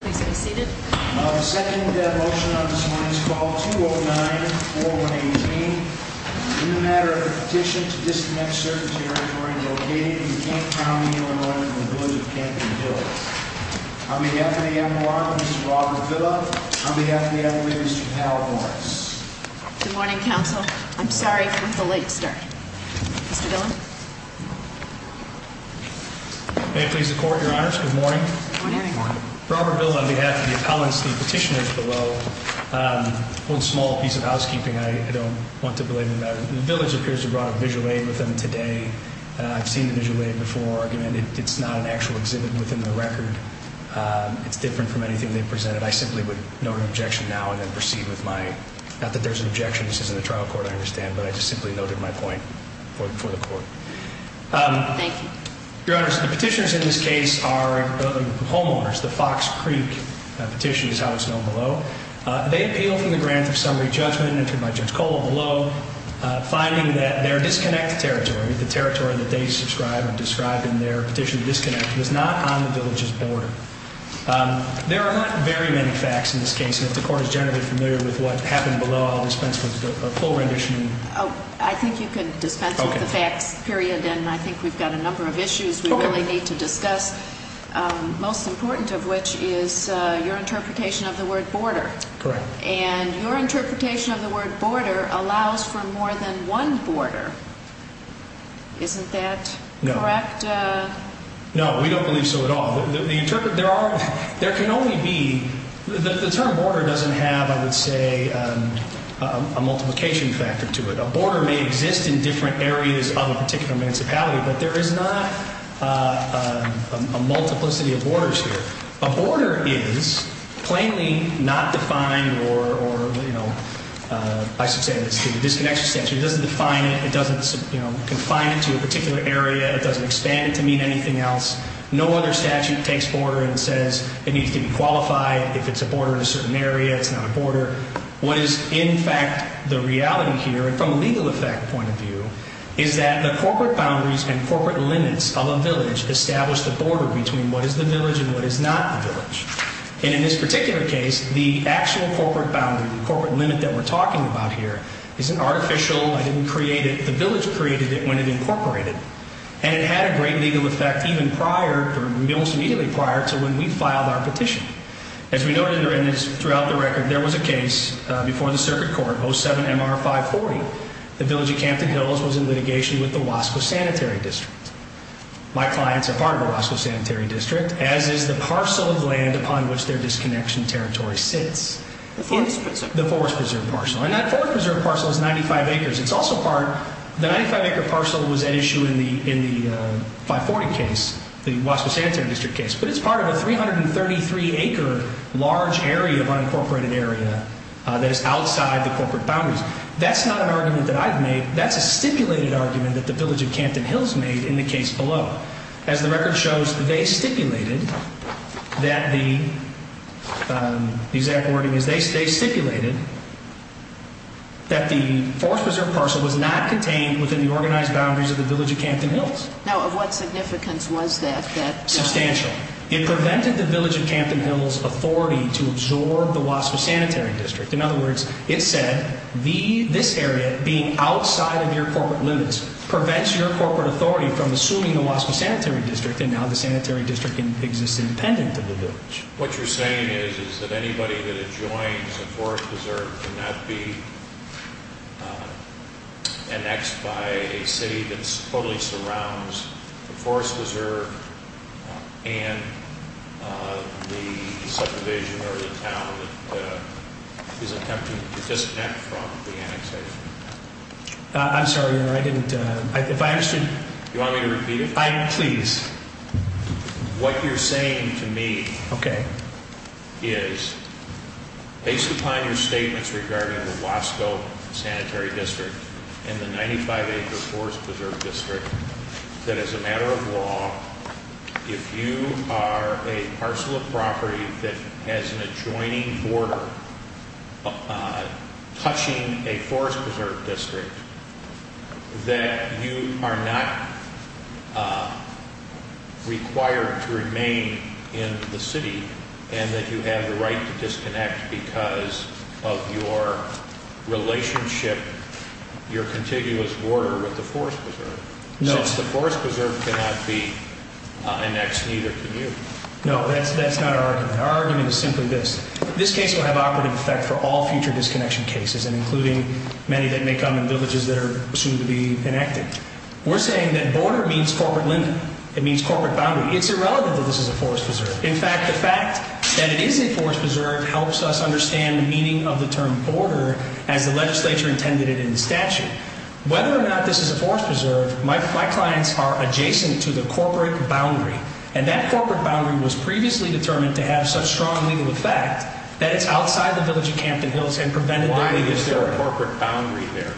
Please be seated. The second motion on this morning's call, 209-418, in the matter of a petition to disconnect certain territory located in Camp County, Illinois, from the Village of Campton Hills. On behalf of the MLA, Mr. Robert Villa, on behalf of the MLA, Mr. Hal Lawrence. Good morning, counsel. I'm sorry for the late start. Mr. Villa? May it please the Court, Your Honors. Good morning. Good morning. Robert Villa, on behalf of the appellants, the petitioners below, hold small piece of housekeeping. I don't want to belabor the matter. The Village appears to have brought a visual aid with them today. I've seen the visual aid before. It's not an actual exhibit within the record. It's different from anything they've presented. I simply would note an objection now and then proceed with my... Not that there's an objection. This isn't a trial court, I understand, but I just simply noted my point for the Court. Thank you. Your Honors, the petitioners in this case are homeowners. The Fox Creek petition is how it's known below. They appeal from the grant of summary judgment entered by Judge Cole below, finding that their disconnected territory, the territory that they described in their petition to disconnect, was not on the Village's border. There are not very many facts in this case, and if the Court is generally familiar with what happened below, I'll dispense with a full rendition. I think you can dispense with the facts, period, and I think we've got a number of issues we really need to discuss, most important of which is your interpretation of the word border. Correct. And your interpretation of the word border allows for more than one border. Isn't that correct? No. No, we don't believe so at all. There can only be – the term border doesn't have, I would say, a multiplication factor to it. A border may exist in different areas of a particular municipality, but there is not a multiplicity of borders here. A border is plainly not defined or, you know, I should say it's a disconnected statute. It doesn't define it, it doesn't confine it to a particular area, it doesn't expand it to mean anything else. No other statute takes border and says it needs to be qualified if it's a border in a certain area, it's not a border. What is in fact the reality here, from a legal effect point of view, is that the corporate boundaries and corporate limits of a village establish the border between what is the village and what is not the village. And in this particular case, the actual corporate boundary, the corporate limit that we're talking about here, isn't artificial, I didn't create it, the village created it when it incorporated it. And it had a great legal effect even prior, or almost immediately prior, to when we filed our petition. As we noted throughout the record, there was a case before the circuit court, 07-MR-540. The village of Campton Hills was in litigation with the Wasco Sanitary District. My clients are part of the Wasco Sanitary District, as is the parcel of land upon which their disconnection territory sits. The forest preserve parcel. The forest preserve parcel. And that forest preserve parcel is 95 acres. It's also part, the 95-acre parcel was at issue in the 540 case, the Wasco Sanitary District case. But it's part of a 333-acre large area of unincorporated area that is outside the corporate boundaries. That's not an argument that I've made. That's a stipulated argument that the village of Campton Hills made in the case below. As the record shows, they stipulated that the exact wording is they stipulated that the forest preserve parcel was not contained within the organized boundaries of the village of Campton Hills. Now, of what significance was that? Substantial. It prevented the village of Campton Hills' authority to absorb the Wasco Sanitary District. In other words, it said this area being outside of your corporate limits prevents your corporate authority from assuming the Wasco Sanitary District. And now the sanitary district exists independent of the village. What you're saying is that anybody that adjoins the forest preserve cannot be annexed by a city that totally surrounds the forest preserve and the subdivision or the town that is attempting to disconnect from the annexation. I'm sorry, Your Honor. I didn't, if I understood. Do you want me to repeat it? Please. What you're saying to me is, based upon your statements regarding the Wasco Sanitary District and the 95-acre forest preserve district, that as a matter of law, if you are a parcel of property that has an adjoining border touching a forest preserve district, that you are not required to remain in the city and that you have the right to disconnect because of your relationship, your contiguous border with the forest preserve. No. Since the forest preserve cannot be annexed, neither can you. No, that's not our argument. Our argument is simply this. This case will have operative effect for all future disconnection cases, including many that may come in villages that are soon to be enacted. We're saying that border means corporate limit. It means corporate boundary. It's irrelevant that this is a forest preserve. In fact, the fact that it is a forest preserve helps us understand the meaning of the term border as the legislature intended it in the statute. Whether or not this is a forest preserve, my clients are adjacent to the corporate boundary. And that corporate boundary was previously determined to have such strong legal effect that it's outside the village of Campton Hills and prevented their legal thoroughfare. Why is there a corporate boundary there?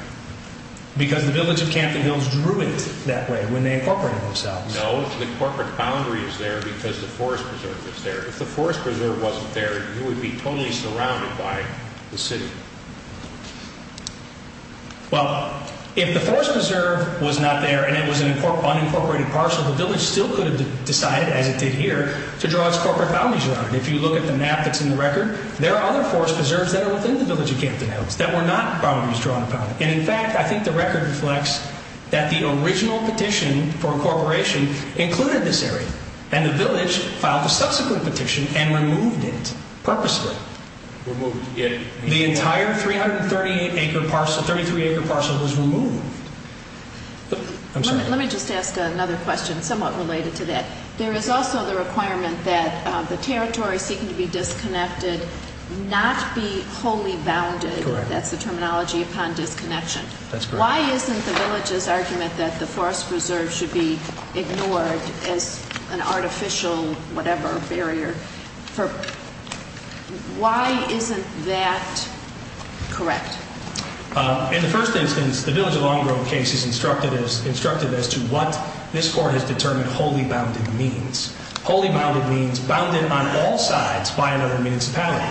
Because the village of Campton Hills drew it that way when they incorporated themselves. No, the corporate boundary is there because the forest preserve is there. If the forest preserve wasn't there, you would be totally surrounded by the city. Well, if the forest preserve was not there and it was an unincorporated parcel, the village still could have decided, as it did here, to draw its corporate boundaries around it. If you look at the map that's in the record, there are other forest preserves that are within the village of Campton Hills that were not boundaries drawn upon. And in fact, I think the record reflects that the original petition for incorporation included this area. And the village filed a subsequent petition and removed it purposely. The entire 338-acre parcel was removed. Let me just ask another question somewhat related to that. There is also the requirement that the territory seeking to be disconnected not be wholly bounded. That's the terminology upon disconnection. That's correct. The village's argument that the forest preserve should be ignored as an artificial whatever barrier, why isn't that correct? In the first instance, the Village of Long Grove case is instructive as to what this court has determined wholly bounded means. Wholly bounded means bounded on all sides by another municipality.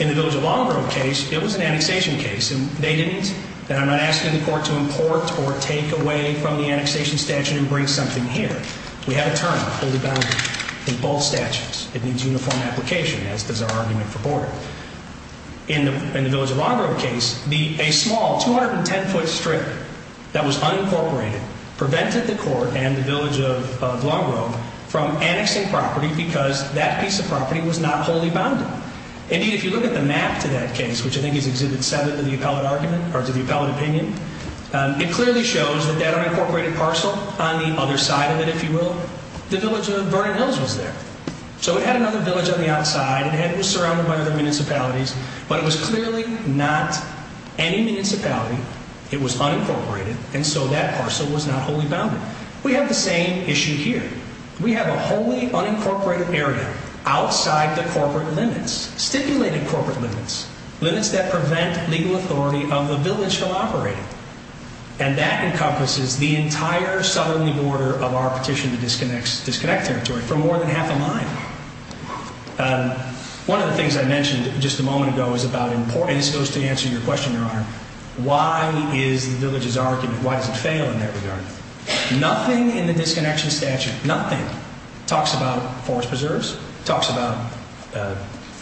In the Village of Long Grove case, it was an annexation case, and they didn't. And I'm not asking the court to import or take away from the annexation statute and bring something here. We have a term, wholly bounded, in both statutes. It needs uniform application, as does our argument for border. In the Village of Long Grove case, a small 210-foot strip that was unincorporated prevented the court and the Village of Long Grove from annexing property because that piece of property was not wholly bounded. Indeed, if you look at the map to that case, which I think is Exhibit 7 of the appellate argument or to the appellate opinion, it clearly shows that that unincorporated parcel on the other side of it, if you will, the Village of Vernon Hills was there. So it had another village on the outside. It was surrounded by other municipalities. But it was clearly not any municipality. It was unincorporated. And so that parcel was not wholly bounded. We have the same issue here. We have a wholly unincorporated area outside the corporate limits, stipulated corporate limits, limits that prevent legal authority of the village from operating. And that encompasses the entire southerly border of our petition to disconnect territory for more than half a mile. One of the things I mentioned just a moment ago is about importance. This goes to answer your question, Your Honor. Why is the village's argument, why does it fail in that regard? Nothing in the disconnection statute, nothing, talks about forest preserves, talks about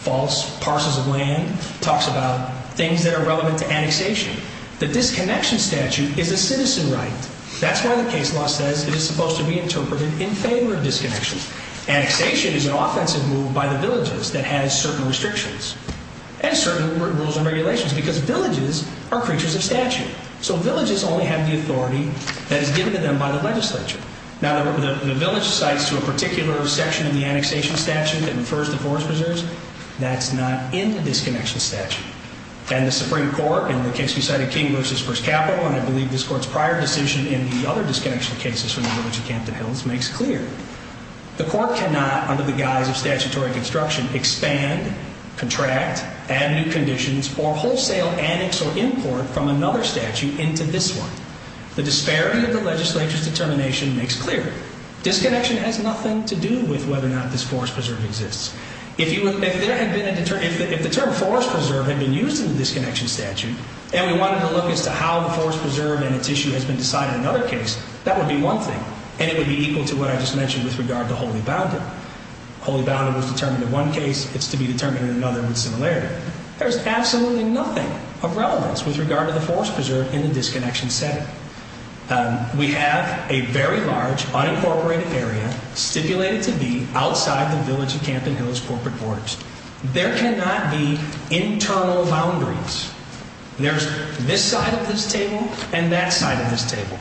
false parcels of land, talks about things that are relevant to annexation. The disconnection statute is a citizen right. That's why the case law says it is supposed to be interpreted in favor of disconnection. Annexation is an offensive move by the villages that has certain restrictions and certain rules and regulations because villages are creatures of statute. So villages only have the authority that is given to them by the legislature. Now, the village cites to a particular section of the annexation statute that refers to forest preserves. That's not in the disconnection statute. And the Supreme Court, in the case we cited, King v. First Capital, and I believe this Court's prior decision in the other disconnection cases from the village of Campton Hills, makes clear. The Court cannot, under the guise of statutory construction, expand, contract, add new conditions, or wholesale annex or import from another statute into this one. The disparity of the legislature's determination makes clear. Disconnection has nothing to do with whether or not this forest preserve exists. If the term forest preserve had been used in the disconnection statute and we wanted to look as to how the forest preserve and its issue has been decided in another case, that would be one thing. And it would be equal to what I just mentioned with regard to Holy Boundary. Holy Boundary was determined in one case. It's to be determined in another with similarity. There is absolutely nothing of relevance with regard to the forest preserve in the disconnection setting. We have a very large, unincorporated area stipulated to be outside the village of Campton Hills corporate borders. There cannot be internal boundaries. There's this side of this table and that side of this table.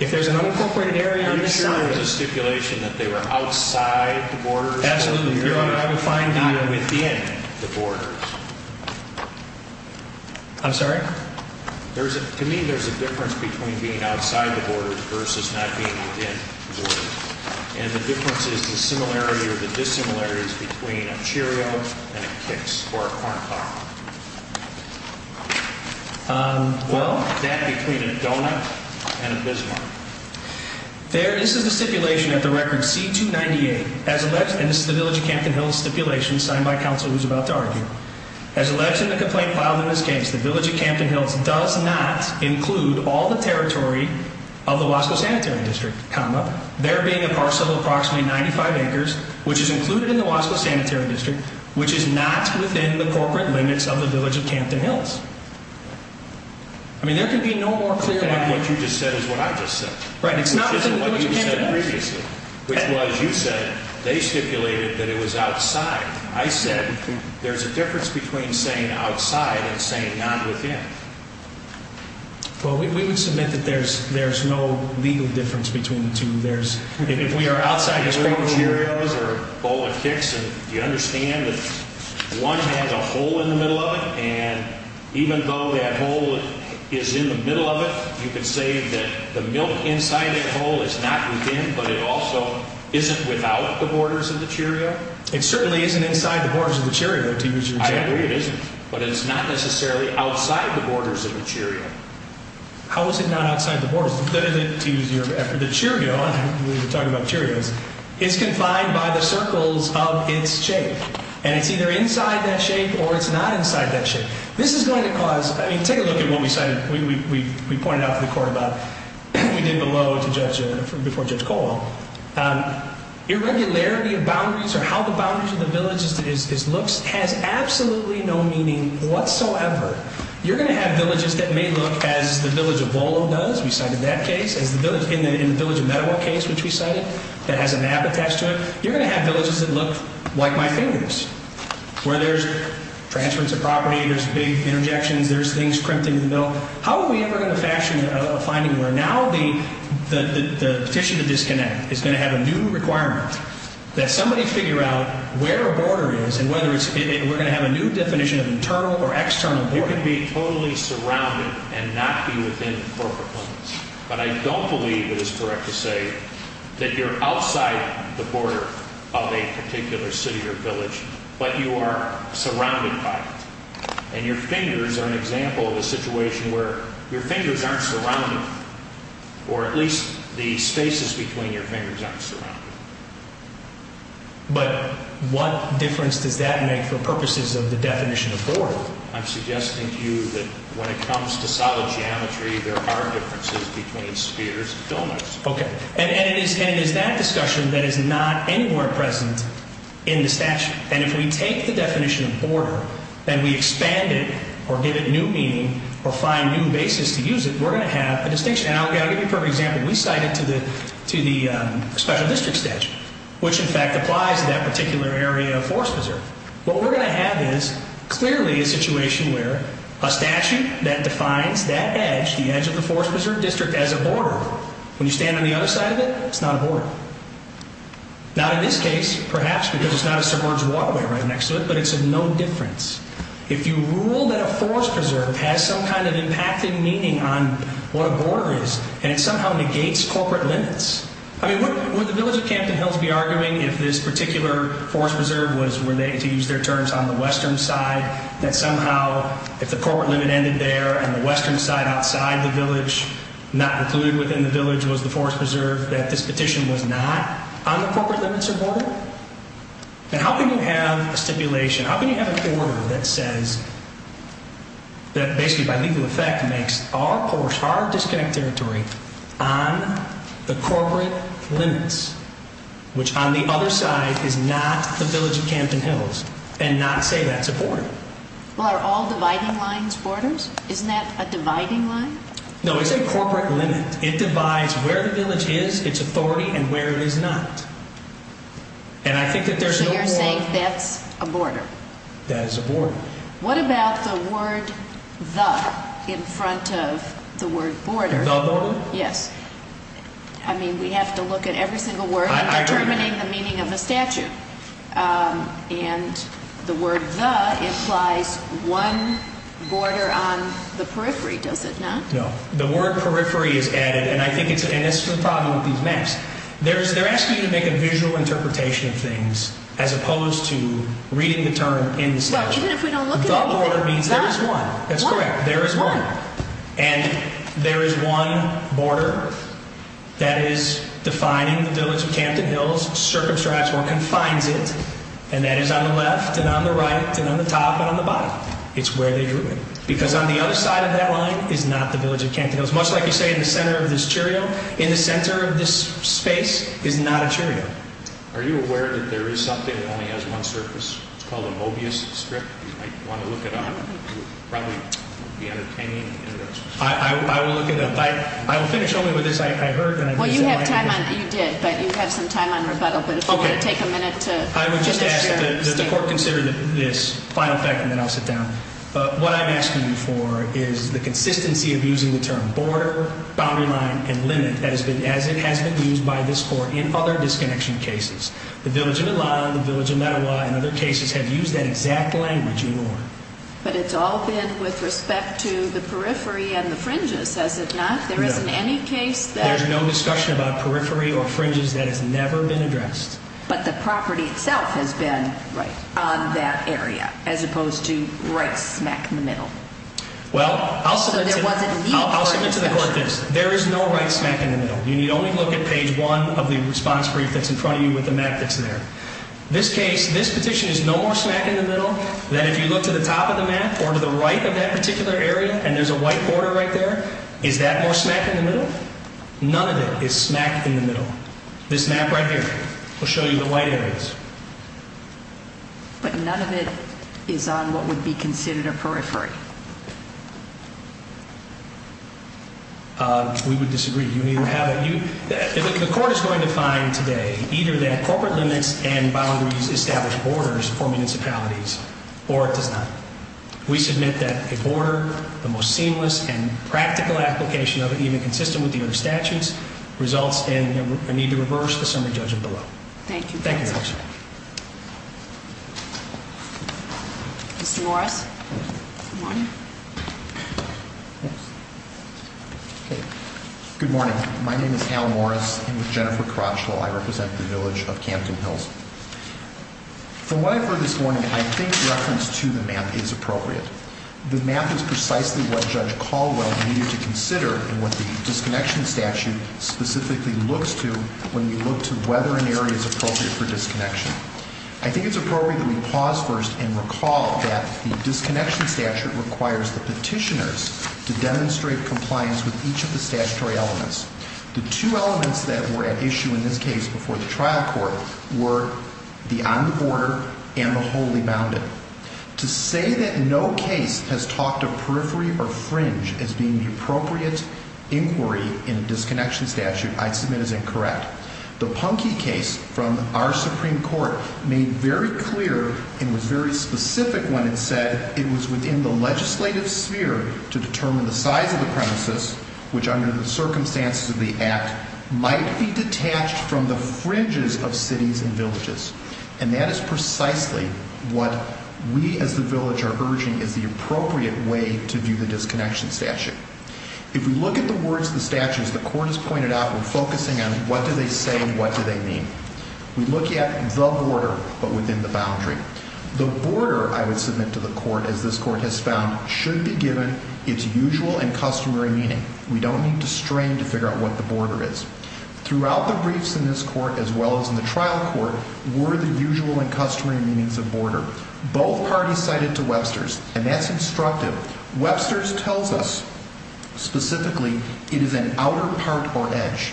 If there's an unincorporated area on this side... Are you sure there's a stipulation that they were outside the borders? Absolutely. Not within the borders. I'm sorry? To me, there's a difference between being outside the borders versus not being within the borders. And the difference is the similarity or the dissimilarity between a Cheerio and a Kix or a corn dog. Well? That between a donut and a Bismarck. There, this is the stipulation at the record C-298. And this is the village of Campton Hills stipulation signed by counsel who's about to argue. As alleged in the complaint filed in this case, the village of Campton Hills does not include all the territory of the Wasco Sanitary District, comma, there being a parcel of approximately 95 acres, which is included in the Wasco Sanitary District, which is not within the corporate limits of the village of Campton Hills. I mean, there can be no more clear... Okay, what you just said is what I just said. Right, it's not within the village of Campton Hills. Which isn't what you said previously. Which was, you said, they stipulated that it was outside. I said, there's a difference between saying outside and saying not within. Well, we would submit that there's no legal difference between the two. There's... If we are outside the state of Cheerios or a bowl of Kix, and you understand that one has a hole in the middle of it, and even though that hole is in the middle of it, you can say that the milk inside that hole is not within, but it also isn't without the borders of the Cheerio? It certainly isn't inside the borders of the Cheerio, to use your example. I agree it isn't, but it's not necessarily outside the borders of the Cheerio. How is it not outside the borders? To use your... After the Cheerio, we were talking about Cheerios, it's confined by the circles of its shape, and it's either inside that shape or it's not inside that shape. This is going to cause... I mean, take a look at what we said. We pointed out to the court about... We did below to Judge... Before Judge Colwell. Irregularity of boundaries, or how the boundaries of the villages looks, has absolutely no meaning whatsoever. You're going to have villages that may look as the village of Volo does. We cited that case. As the village... In the village of Meadowa case, which we cited, that has a map attached to it. You're going to have villages that look like my fingers, where there's transference of property, there's big interjections, there's things crimped into the middle. How are we ever going to fashion a finding where now the petition to disconnect is going to have a new requirement, that somebody figure out where a border is and whether it's... We're going to have a new definition of internal or external borders. You can be totally surrounded and not be within corporate limits. But I don't believe it is correct to say that you're outside the border of a particular city or village, but you are surrounded by it. And your fingers are an example of a situation where your fingers aren't surrounded, or at least the spaces between your fingers aren't surrounded. But what difference does that make for purposes of the definition of border? I'm suggesting to you that when it comes to solid geometry, there are differences between spheres and filaments. Okay. And it is that discussion that is not anywhere present in the statute. And if we take the definition of border and we expand it or give it new meaning or find new basis to use it, we're going to have a distinction. And I'll give you a perfect example. We cite it to the special district statute, which in fact applies to that particular area of Forest Preserve. What we're going to have is clearly a situation where a statute that defines that edge, the edge of the Forest Preserve District, as a border, when you stand on the other side of it, it's not a border. Not in this case, perhaps, because it's not a submerged waterway right next to it, but it's of no difference. If you rule that a Forest Preserve has some kind of impacted meaning on what a border is and it somehow negates corporate limits, I mean, would the village of Campton Hills be arguing if this particular Forest Preserve was, were they to use their terms, on the western side, that somehow if the corporate limit ended there and the western side outside the village, not included within the village, was the Forest Preserve, that this petition was not on the corporate limits of border? And how can you have a stipulation, how can you have a border that says, that basically by legal effect makes our course, our disconnected territory on the corporate limits, which on the other side is not the village of Campton Hills, and not say that's a border? Well, are all dividing lines borders? Isn't that a dividing line? No, it's a corporate limit. It divides where the village is, its authority, and where it is not. And I think that there's no border. So you're saying that's a border? That is a border. What about the word, the, in front of the word border? The border? Yes. I mean, we have to look at every single word in determining the meaning of the statute. And the word, the, implies one border on the periphery, does it not? No. The word, periphery, is added, and I think that's the problem with these maps. They're asking you to make a visual interpretation of things, as opposed to reading the term in the statute. Well, even if we don't look at anything? The border means there is one. That's correct. There is one. And there is one border that is defining the village of Campton Hills, circumscribes or confines it, and that is on the left and on the right and on the top and on the bottom. It's where they drew it. Because on the other side of that line is not the village of Campton Hills. Much like you say in the center of this cheerio, in the center of this space is not a cheerio. Are you aware that there is something that only has one surface? It's called a Mobius strip. You might want to look it up. It would probably be entertaining. I will look it up. I will finish only with this. Well, you did, but you have some time on rebuttal, but if you want to take a minute to finish your statement. I would just ask that the court consider this final fact, and then I'll sit down. What I'm asking you for is the consistency of using the term border, boundary line, and limit as it has been used by this court in other disconnection cases. The village of Elan, the village of Mettawa, and other cases have used that exact language in order. But it's all been with respect to the periphery and the fringes, has it not? No. There isn't any case that... There's no discussion about periphery or fringes that has never been addressed. But the property itself has been on that area, as opposed to right smack in the middle. Well, I'll submit to the court this. There is no right smack in the middle. You need only look at page one of the response brief that's in front of you with the map that's there. This case, this petition is no more smack in the middle than if you look to the top of the map or to the right of that particular area, and there's a white border right there. Is that more smack in the middle? None of it is smack in the middle. This map right here will show you the white areas. But none of it is on what would be considered a periphery. We would disagree. The court is going to find today either that corporate limits and boundaries establish borders for municipalities, or it does not. We submit that a border, the most seamless and practical application of it, even consistent with the other statutes, results in a need to reverse the summary judgment below. Thank you. Thank you. Mr. Morris. Good morning. Good morning. My name is Hal Morris. I'm with Jennifer Crotchville. I represent the village of Camden Hills. From what I've heard this morning, I think reference to the map is appropriate. The map is precisely what Judge Caldwell needed to consider in what the disconnection statute specifically looks to when we look to whether an area is appropriate for disconnection. I think it's appropriate that we pause first and recall that the disconnection statute requires the petitioners to demonstrate compliance with each of the statutory elements. The two elements that were at issue in this case before the trial court were the on the border and the wholly bounded. To say that no case has talked of periphery or fringe as being the appropriate inquiry in a disconnection statute I'd submit is incorrect. The Punky case from our Supreme Court made very clear and was very specific when it said it was within the legislative sphere to determine the size of the premises which under the circumstances of the act might be detached from the fringes of cities and villages. And that is precisely what we as the village are urging is the appropriate way to view the disconnection statute. If we look at the words of the statute as the court has pointed out, we're focusing on what do they say and what do they mean. We look at the border but within the boundary. The border, I would submit to the court as this court has found, should be given its usual and customary meaning. We don't need to strain to figure out what the border is. Throughout the briefs in this court as well as in the trial court were the usual and customary meanings of border. Both parties cited to Webster's and that's instructive. Webster's tells us specifically it is an outer part or edge.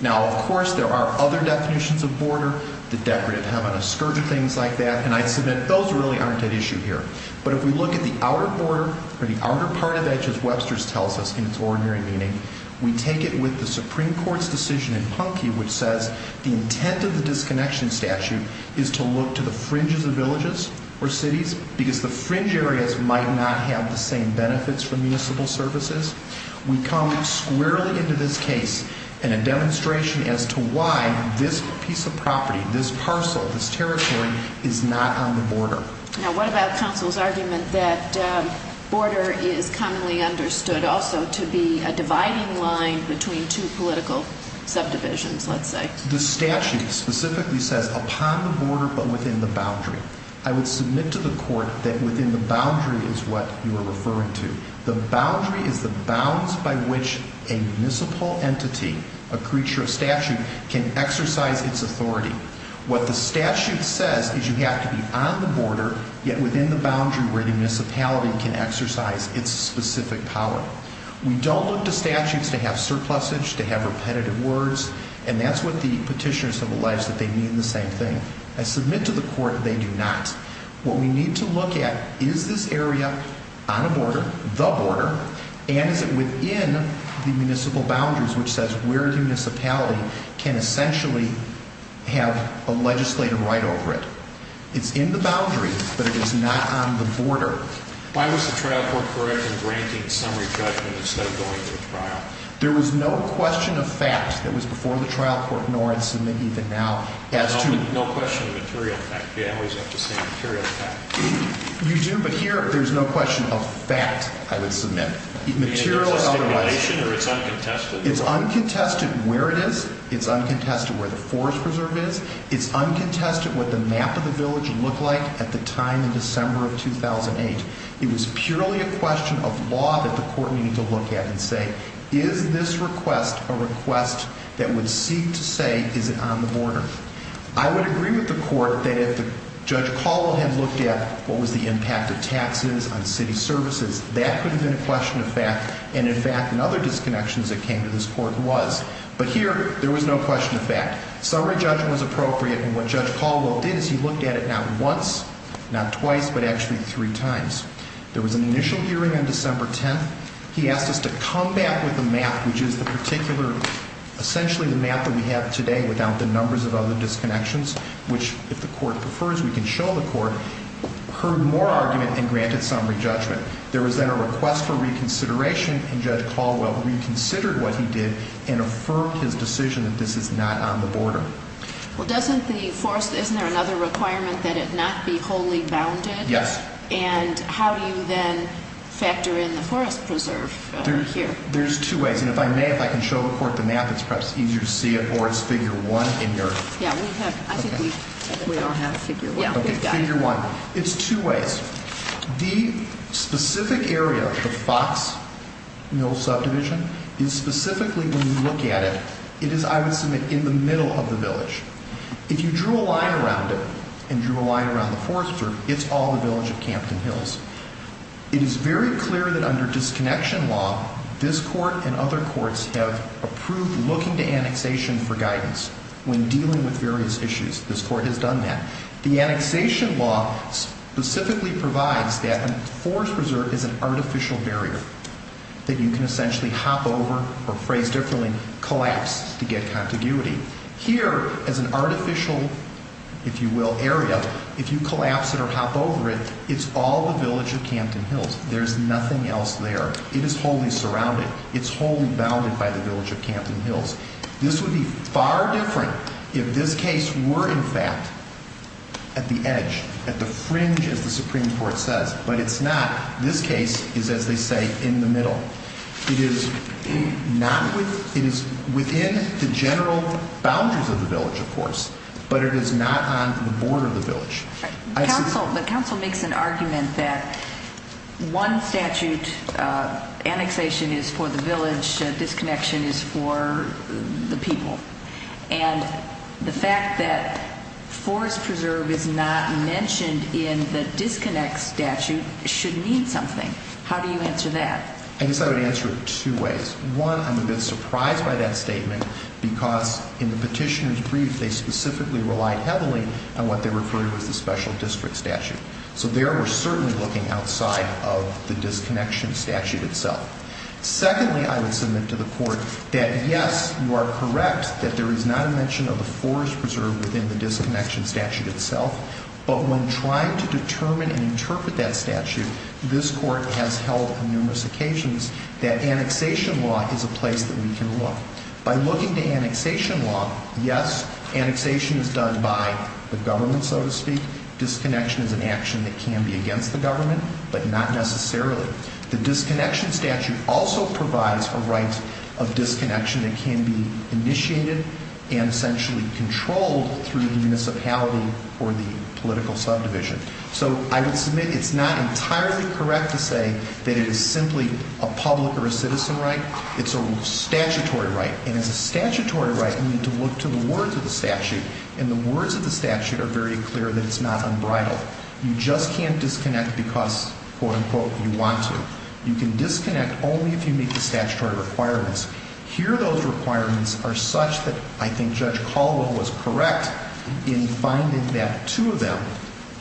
Now, of course, there are other definitions of border. The decorative heaven, a scourge of things like that. And I'd submit those really aren't at issue here. But if we look at the outer border or the outer part of edge as Webster's tells us in its ordinary meaning, we take it with the Supreme Court's decision in Punky which says the intent of the disconnection statute is to look to the fringes of villages or cities because the fringe areas might not have the same benefits for municipal services. We come squarely into this case in a demonstration as to why this piece of property, this parcel, this territory is not on the border. Now, what about counsel's argument that border is commonly understood also to be a dividing line between two political subdivisions, let's say? The statute specifically says upon the border but within the boundary. I would submit to the court that within the boundary is what you are referring to. The boundary is the bounds by which a municipal entity, a creature of statute, can exercise its authority. What the statute says is you have to be on the border yet within the boundary where the municipality can exercise its specific power. We don't look to statutes to have surpluses, to have repetitive words, and that's what the petitioners have realized that they mean the same thing. I submit to the court they do not. What we need to look at is this area on a border, the border, and is it within the municipal boundaries, which says where a municipality can essentially have a legislative right over it. It's in the boundary, but it is not on the border. Why was the trial court correct in granting summary judgment instead of going to a trial? There was no question of fact that was before the trial court, nor I'd submit even now as to— No question of material fact. You always have to say material fact. You do, but here there's no question of fact I would submit. Is it stipulation or it's uncontested? It's uncontested where it is. It's uncontested where the forest preserve is. It's uncontested what the map of the village looked like at the time in December of 2008. It was purely a question of law that the court needed to look at and say, is this request a request that would seek to say is it on the border? I would agree with the court that if Judge Caldwell had looked at what was the impact of taxes on city services, that could have been a question of fact, and in fact in other disconnections that came to this court was. But here there was no question of fact. Summary judgment was appropriate, and what Judge Caldwell did is he looked at it not once, not twice, but actually three times. There was an initial hearing on December 10th. He asked us to come back with the map, which is the particular, essentially the map that we have today without the numbers of other disconnections, which if the court prefers we can show the court, heard more argument and granted summary judgment. There was then a request for reconsideration, and Judge Caldwell reconsidered what he did and affirmed his decision that this is not on the border. Well, doesn't the forest, isn't there another requirement that it not be wholly bounded? Yes. And how do you then factor in the forest preserve here? There's two ways. And if I may, if I can show the court the map, it's perhaps easier to see it, or it's figure one in your. Yeah, we have, I think we all have figure one. Okay, figure one. It's two ways. The specific area of the Fox Mill subdivision is specifically when you look at it, it is, I would submit, in the middle of the village. If you drew a line around it and drew a line around the forest preserve, it's all the village of Campton Hills. It is very clear that under disconnection law, this court and other courts have approved looking to annexation for guidance when dealing with various issues. This court has done that. The annexation law specifically provides that a forest preserve is an artificial barrier that you can essentially hop over, or phrase differently, collapse to get contiguity. Here, as an artificial, if you will, area, if you collapse it or hop over it, it's all the village of Campton Hills. There's nothing else there. It is wholly surrounded. It's wholly bounded by the village of Campton Hills. This would be far different if this case were, in fact, at the edge, at the fringe, as the Supreme Court says. But it's not. This case is, as they say, in the middle. It is within the general boundaries of the village, of course, but it is not on the border of the village. The counsel makes an argument that one statute, annexation is for the village, disconnection is for the people. And the fact that forest preserve is not mentioned in the disconnect statute should mean something. How do you answer that? I guess I would answer it two ways. One, I'm a bit surprised by that statement because in the petitioner's brief, they specifically relied heavily on what they referred to as the special district statute. So there we're certainly looking outside of the disconnection statute itself. Secondly, I would submit to the court that, yes, you are correct that there is not a mention of the forest preserve within the disconnection statute itself, but when trying to determine and interpret that statute, this court has held on numerous occasions that annexation law is a place that we can look. By looking to annexation law, yes, annexation is done by the government, so to speak. Disconnection is an action that can be against the government, but not necessarily. The disconnection statute also provides a right of disconnection that can be initiated and essentially controlled through the municipality or the political subdivision. So I would submit it's not entirely correct to say that it is simply a public or a citizen right. It's a statutory right, and as a statutory right, you need to look to the words of the statute, and the words of the statute are very clear that it's not unbridled. You just can't disconnect because, quote, unquote, you want to. You can disconnect only if you meet the statutory requirements. Here those requirements are such that I think Judge Caldwell was correct in finding that two of them,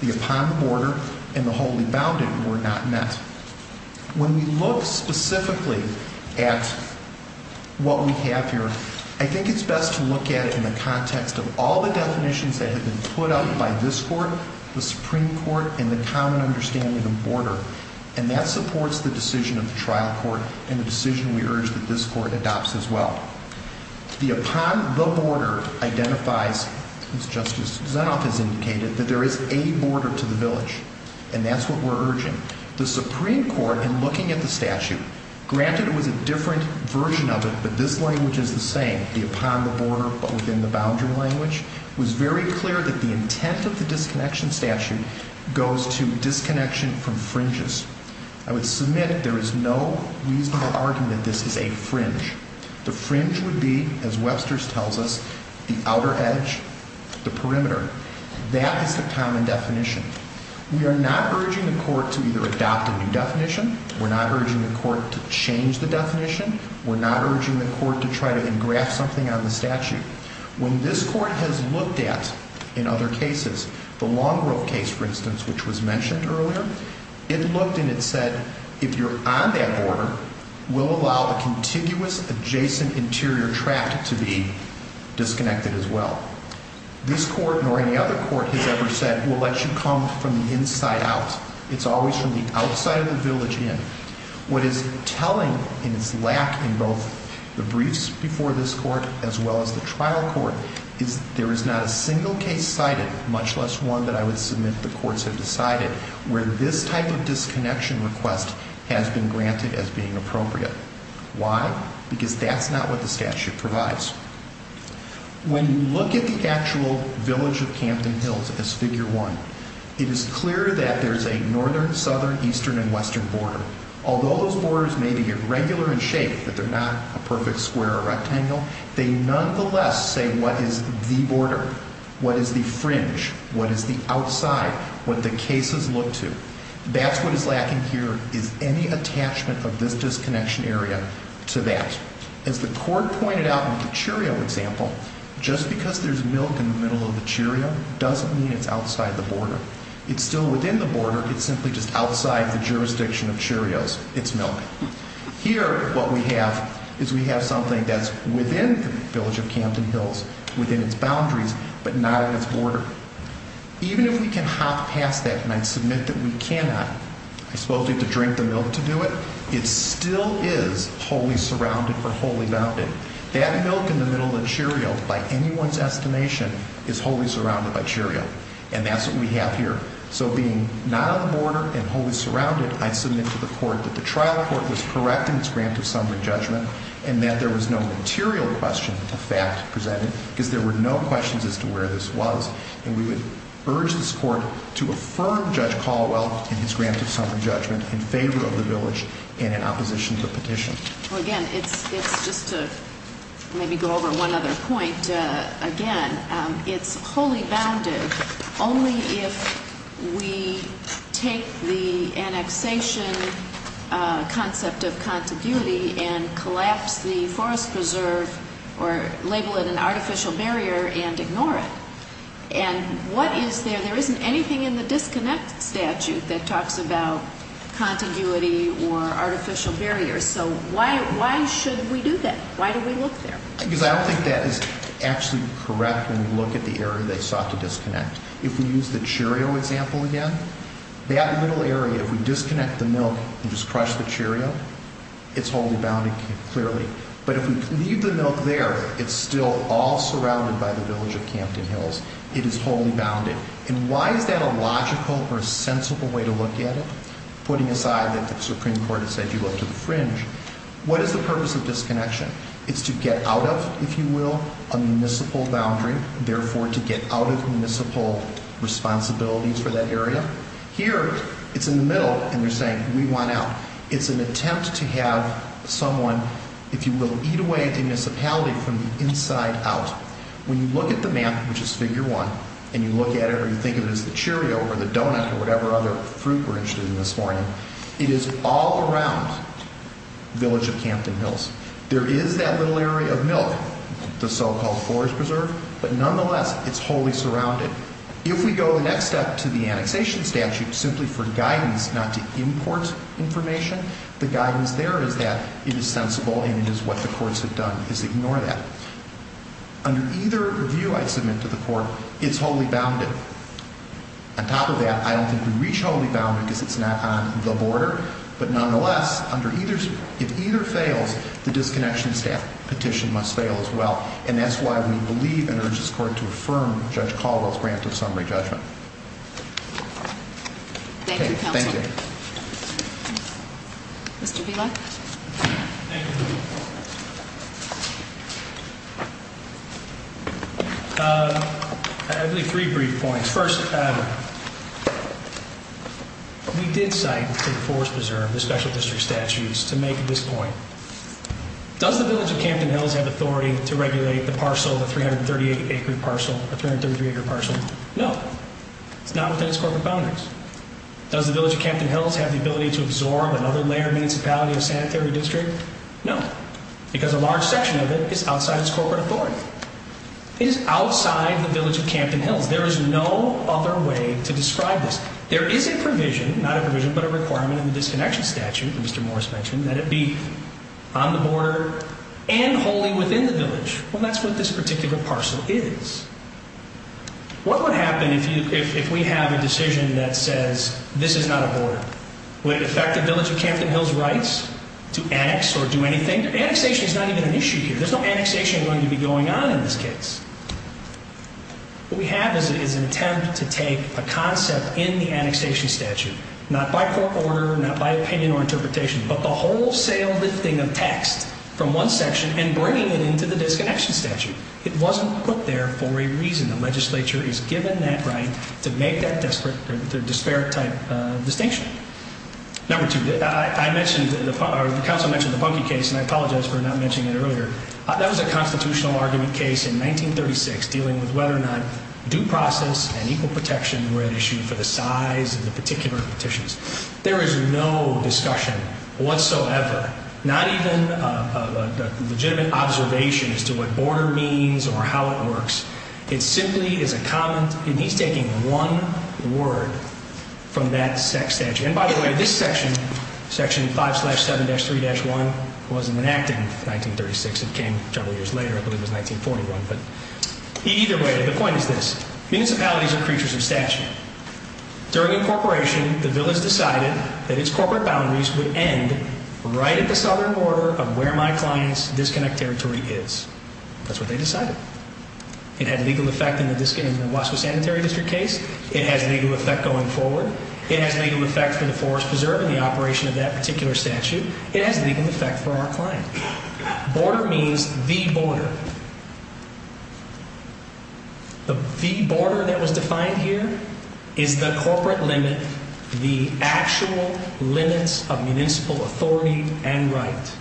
the upon the border and the wholly bounded, were not met. When we look specifically at what we have here, I think it's best to look at it in the context of all the definitions that have been put up by this court, the Supreme Court, and the common understanding of border, and that supports the decision of the trial court and the decision we urge that this court adopts as well. The upon the border identifies, as Justice Zenoff has indicated, that there is a border to the village, and that's what we're urging. The Supreme Court, in looking at the statute, granted it was a different version of it, but this language is the same, the upon the border but within the boundary language. It was very clear that the intent of the disconnection statute goes to disconnection from fringes. I would submit there is no reasonable argument that this is a fringe. The fringe would be, as Webster's tells us, the outer edge, the perimeter. That is the common definition. We are not urging the court to either adopt a new definition. We're not urging the court to change the definition. We're not urging the court to try to engraft something on the statute. When this court has looked at, in other cases, the Long Grove case, for instance, which was mentioned earlier, it looked and it said if you're on that border, we'll allow a contiguous adjacent interior tract to be disconnected as well. This court, nor any other court, has ever said we'll let you come from the inside out. It's always from the outside of the village in. What is telling in its lack in both the briefs before this court as well as the trial court is there is not a single case cited, much less one that I would submit the courts have decided, where this type of disconnection request has been granted as being appropriate. Why? Because that's not what the statute provides. When you look at the actual village of Camden Hills as Figure 1, it is clear that there's a northern, southern, eastern, and western border. Although those borders may be irregular in shape, that they're not a perfect square or rectangle, they nonetheless say what is the border, what is the fringe, what is the outside, what the cases look to. That's what is lacking here is any attachment of this disconnection area to that. As the court pointed out in the Cheerio example, just because there's milk in the middle of the Cheerio doesn't mean it's outside the border. It's still within the border, it's simply just outside the jurisdiction of Cheerio's, its milk. Here, what we have is we have something that's within the village of Camden Hills, within its boundaries, but not at its border. Even if we can hop past that, and I submit that we cannot, I suppose we have to drink the milk to do it, it still is wholly surrounded or wholly bounded. That milk in the middle of Cheerio, by anyone's estimation, is wholly surrounded by Cheerio. And that's what we have here. So being not on the border and wholly surrounded, I submit to the court that the trial court was correct in its grant of summary judgment and that there was no material question of fact presented because there were no questions as to where this was. And we would urge this court to affirm Judge Caldwell in his grant of summary judgment in favor of the village and in opposition to the petition. Well, again, it's just to maybe go over one other point. Again, it's wholly bounded only if we take the annexation concept of contiguity and collapse the forest preserve or label it an artificial barrier and ignore it. And what is there? There isn't anything in the disconnect statute that talks about contiguity or artificial barriers. So why should we do that? Why do we look there? Because I don't think that is actually correct when we look at the area they sought to disconnect. If we use the Cheerio example again, that little area, if we disconnect the milk and just crush the Cheerio, it's wholly bounded clearly. But if we leave the milk there, it's still all surrounded by the village of Campton Hills. It is wholly bounded. And why is that a logical or a sensible way to look at it, putting aside that the Supreme Court has said you look to the fringe? What is the purpose of disconnection? It's to get out of, if you will, a municipal boundary, therefore to get out of municipal responsibilities for that area. Here, it's in the middle, and they're saying, we want out. It's an attempt to have someone, if you will, eat away at the municipality from the inside out. When you look at the map, which is Figure 1, and you look at it or you think of it as the Cheerio or the donut or whatever other fruit we're interested in this morning, it is all around village of Campton Hills. There is that little area of milk, the so-called forest preserve, but nonetheless, it's wholly surrounded. If we go the next step to the annexation statute simply for guidance not to import information, the guidance there is that it is sensible and it is what the courts have done is ignore that. Under either review I submit to the court, it's wholly bounded. On top of that, I don't think we reach wholly bounded because it's not on the border, but nonetheless, if either fails, the disconnection petition must fail as well, and that's why we believe and urge this court to affirm Judge Caldwell's grant of summary judgment. Thank you, counsel. Thank you. Mr. Bielak? Thank you. I have three brief points. First, we did cite the forest preserve, the special district statutes, to make this point. Does the village of Campton Hills have authority to regulate the parcel, the 338-acre parcel? No. It's not within its corporate boundaries. Does the village of Campton Hills have the ability to absorb another layer of municipality and sanitary district? No. Why? Because a large section of it is outside its corporate authority. It is outside the village of Campton Hills. There is no other way to describe this. There is a provision, not a provision, but a requirement in the disconnection statute, Mr. Morris mentioned, that it be on the border and wholly within the village. Well, that's what this particular parcel is. Would it affect the village of Campton Hills' rights to annex or do anything? Annexation is not even an issue here. There's no annexation going to be going on in this case. What we have is an attempt to take a concept in the annexation statute, not by court order, not by opinion or interpretation, but the wholesale lifting of text from one section and bringing it into the disconnection statute. It wasn't put there for a reason. The legislature is given that right to make that disparate type of distinction. Number two, I mentioned, the counsel mentioned the Bunke case, and I apologize for not mentioning it earlier. That was a constitutional argument case in 1936 dealing with whether or not due process and equal protection were at issue for the size of the particular petitions. There is no discussion whatsoever, not even a legitimate observation as to what border means or how it works. It simply is a comment, and he's taking one word from that statute. And by the way, this section, section 5-7-3-1, wasn't enacted in 1936. It came a couple years later. I believe it was 1941. But either way, the point is this. Municipalities are creatures of statute. During incorporation, the village decided that its corporate boundaries would end right at the southern border of where my client's disconnect territory is. That's what they decided. It had legal effect in the Wasco Sanitary District case. It has legal effect going forward. It has legal effect for the Forest Preserve and the operation of that particular statute. It has legal effect for our client. Border means the border. The border that was defined here is the corporate limit, the actual limits of municipal authority and right.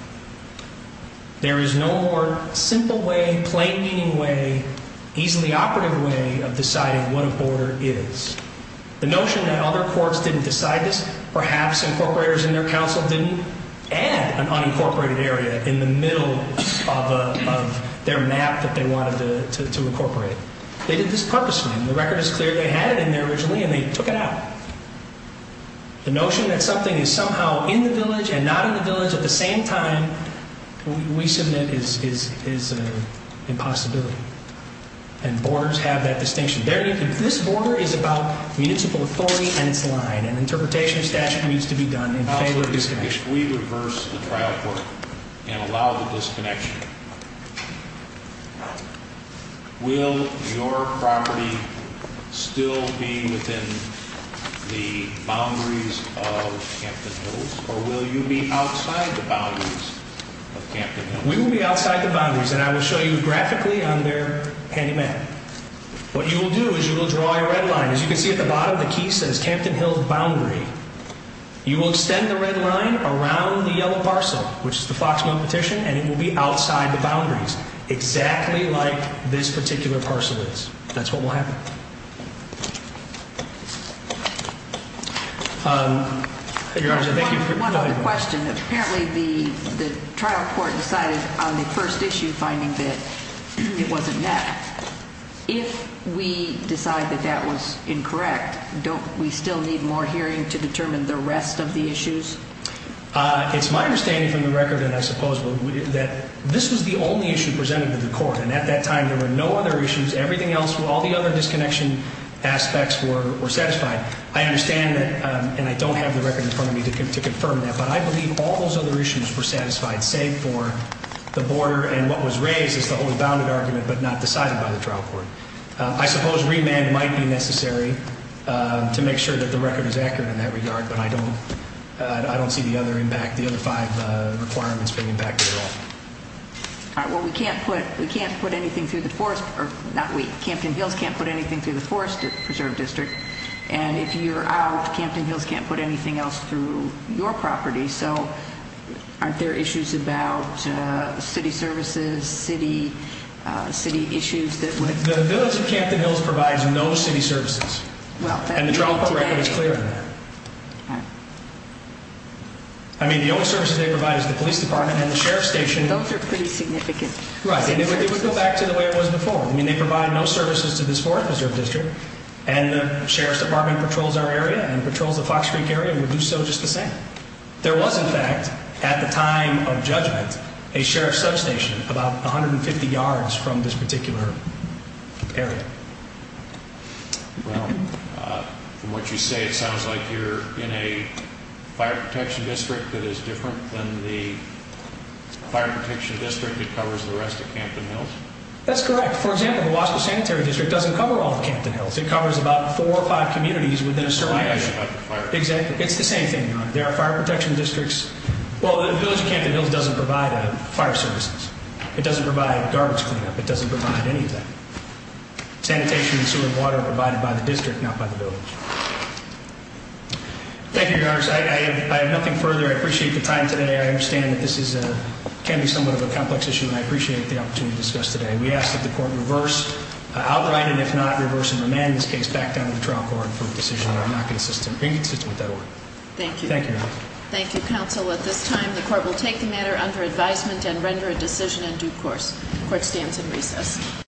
There is no more simple way, plain meaning way, easily operative way of deciding what a border is. The notion that other courts didn't decide this, perhaps incorporators in their council didn't, add an unincorporated area in the middle of their map that they wanted to incorporate. They did this purposely, and the record is clear. They had it in there originally, and they took it out. The notion that something is somehow in the village and not in the village at the same time we submit is impossibility, and borders have that distinction. This border is about municipal authority and its line, and interpretation of statute needs to be done in favor of disconnection. If we reverse the trial court and allow the disconnection, will your property still be within the boundaries of Campton Hills, or will you be outside the boundaries of Campton Hills? We will be outside the boundaries, and I will show you graphically on their handy map. What you will do is you will draw a red line. As you can see at the bottom, the key says, Campton Hills boundary. You will extend the red line around the yellow parcel, which is the Foxmouth petition, and it will be outside the boundaries, exactly like this particular parcel is. That's what will happen. Your Honor, thank you. One other question. Apparently the trial court decided on the first issue finding that it wasn't met. If we decide that that was incorrect, don't we still need more hearing to determine the rest of the issues? It's my understanding from the record, and I suppose that this was the only issue presented to the court, and at that time there were no other issues. Everything else, all the other disconnection aspects were satisfied. I understand that, and I don't have the record in front of me to confirm that, but I believe all those other issues were satisfied, save for the border and what was raised as the only bounded argument but not decided by the trial court. I suppose remand might be necessary to make sure that the record is accurate in that regard, but I don't see the other five requirements being impacted at all. All right, well, we can't put anything through the forest, or not we, Campton Hills can't put anything through the Forest Preserve District, and if you're out, Campton Hills can't put anything else through your property, so aren't there issues about city services, city issues that would... The village of Campton Hills provides no city services, and the trial court record is clear on that. All right. I mean, the only services they provide is the police department and the sheriff's station. Those are pretty significant city services. Right, and it would go back to the way it was before. I mean, they provide no services to this Forest Preserve District, and the sheriff's department patrols our area and patrols the Fox Creek area and would do so just the same. There was, in fact, at the time of judgment, a sheriff's substation about 150 yards from this particular area. Well, from what you say, it sounds like you're in a fire protection district that is different than the fire protection district that covers the rest of Campton Hills. That's correct. For example, the Wasco Sanitary District doesn't cover all of Campton Hills. It covers about four or five communities within a certain area. It's the same thing. There are fire protection districts. Well, the village of Campton Hills doesn't provide fire services. It doesn't provide garbage cleanup. It doesn't provide any of that. Sanitation and sewer and water are provided by the district, not by the village. Thank you, Your Honor. I have nothing further. I appreciate the time today. I understand that this can be somewhat of a complex issue, and I appreciate the opportunity to discuss today. We ask that the court reverse, outright, and if not reverse and remand this case back down to the trial court for a decision. I'm not consistent with that order. Thank you. Thank you, Your Honor. Thank you, counsel. At this time, the court will take the matter under advisement and render a decision in due course. The court stands in recess.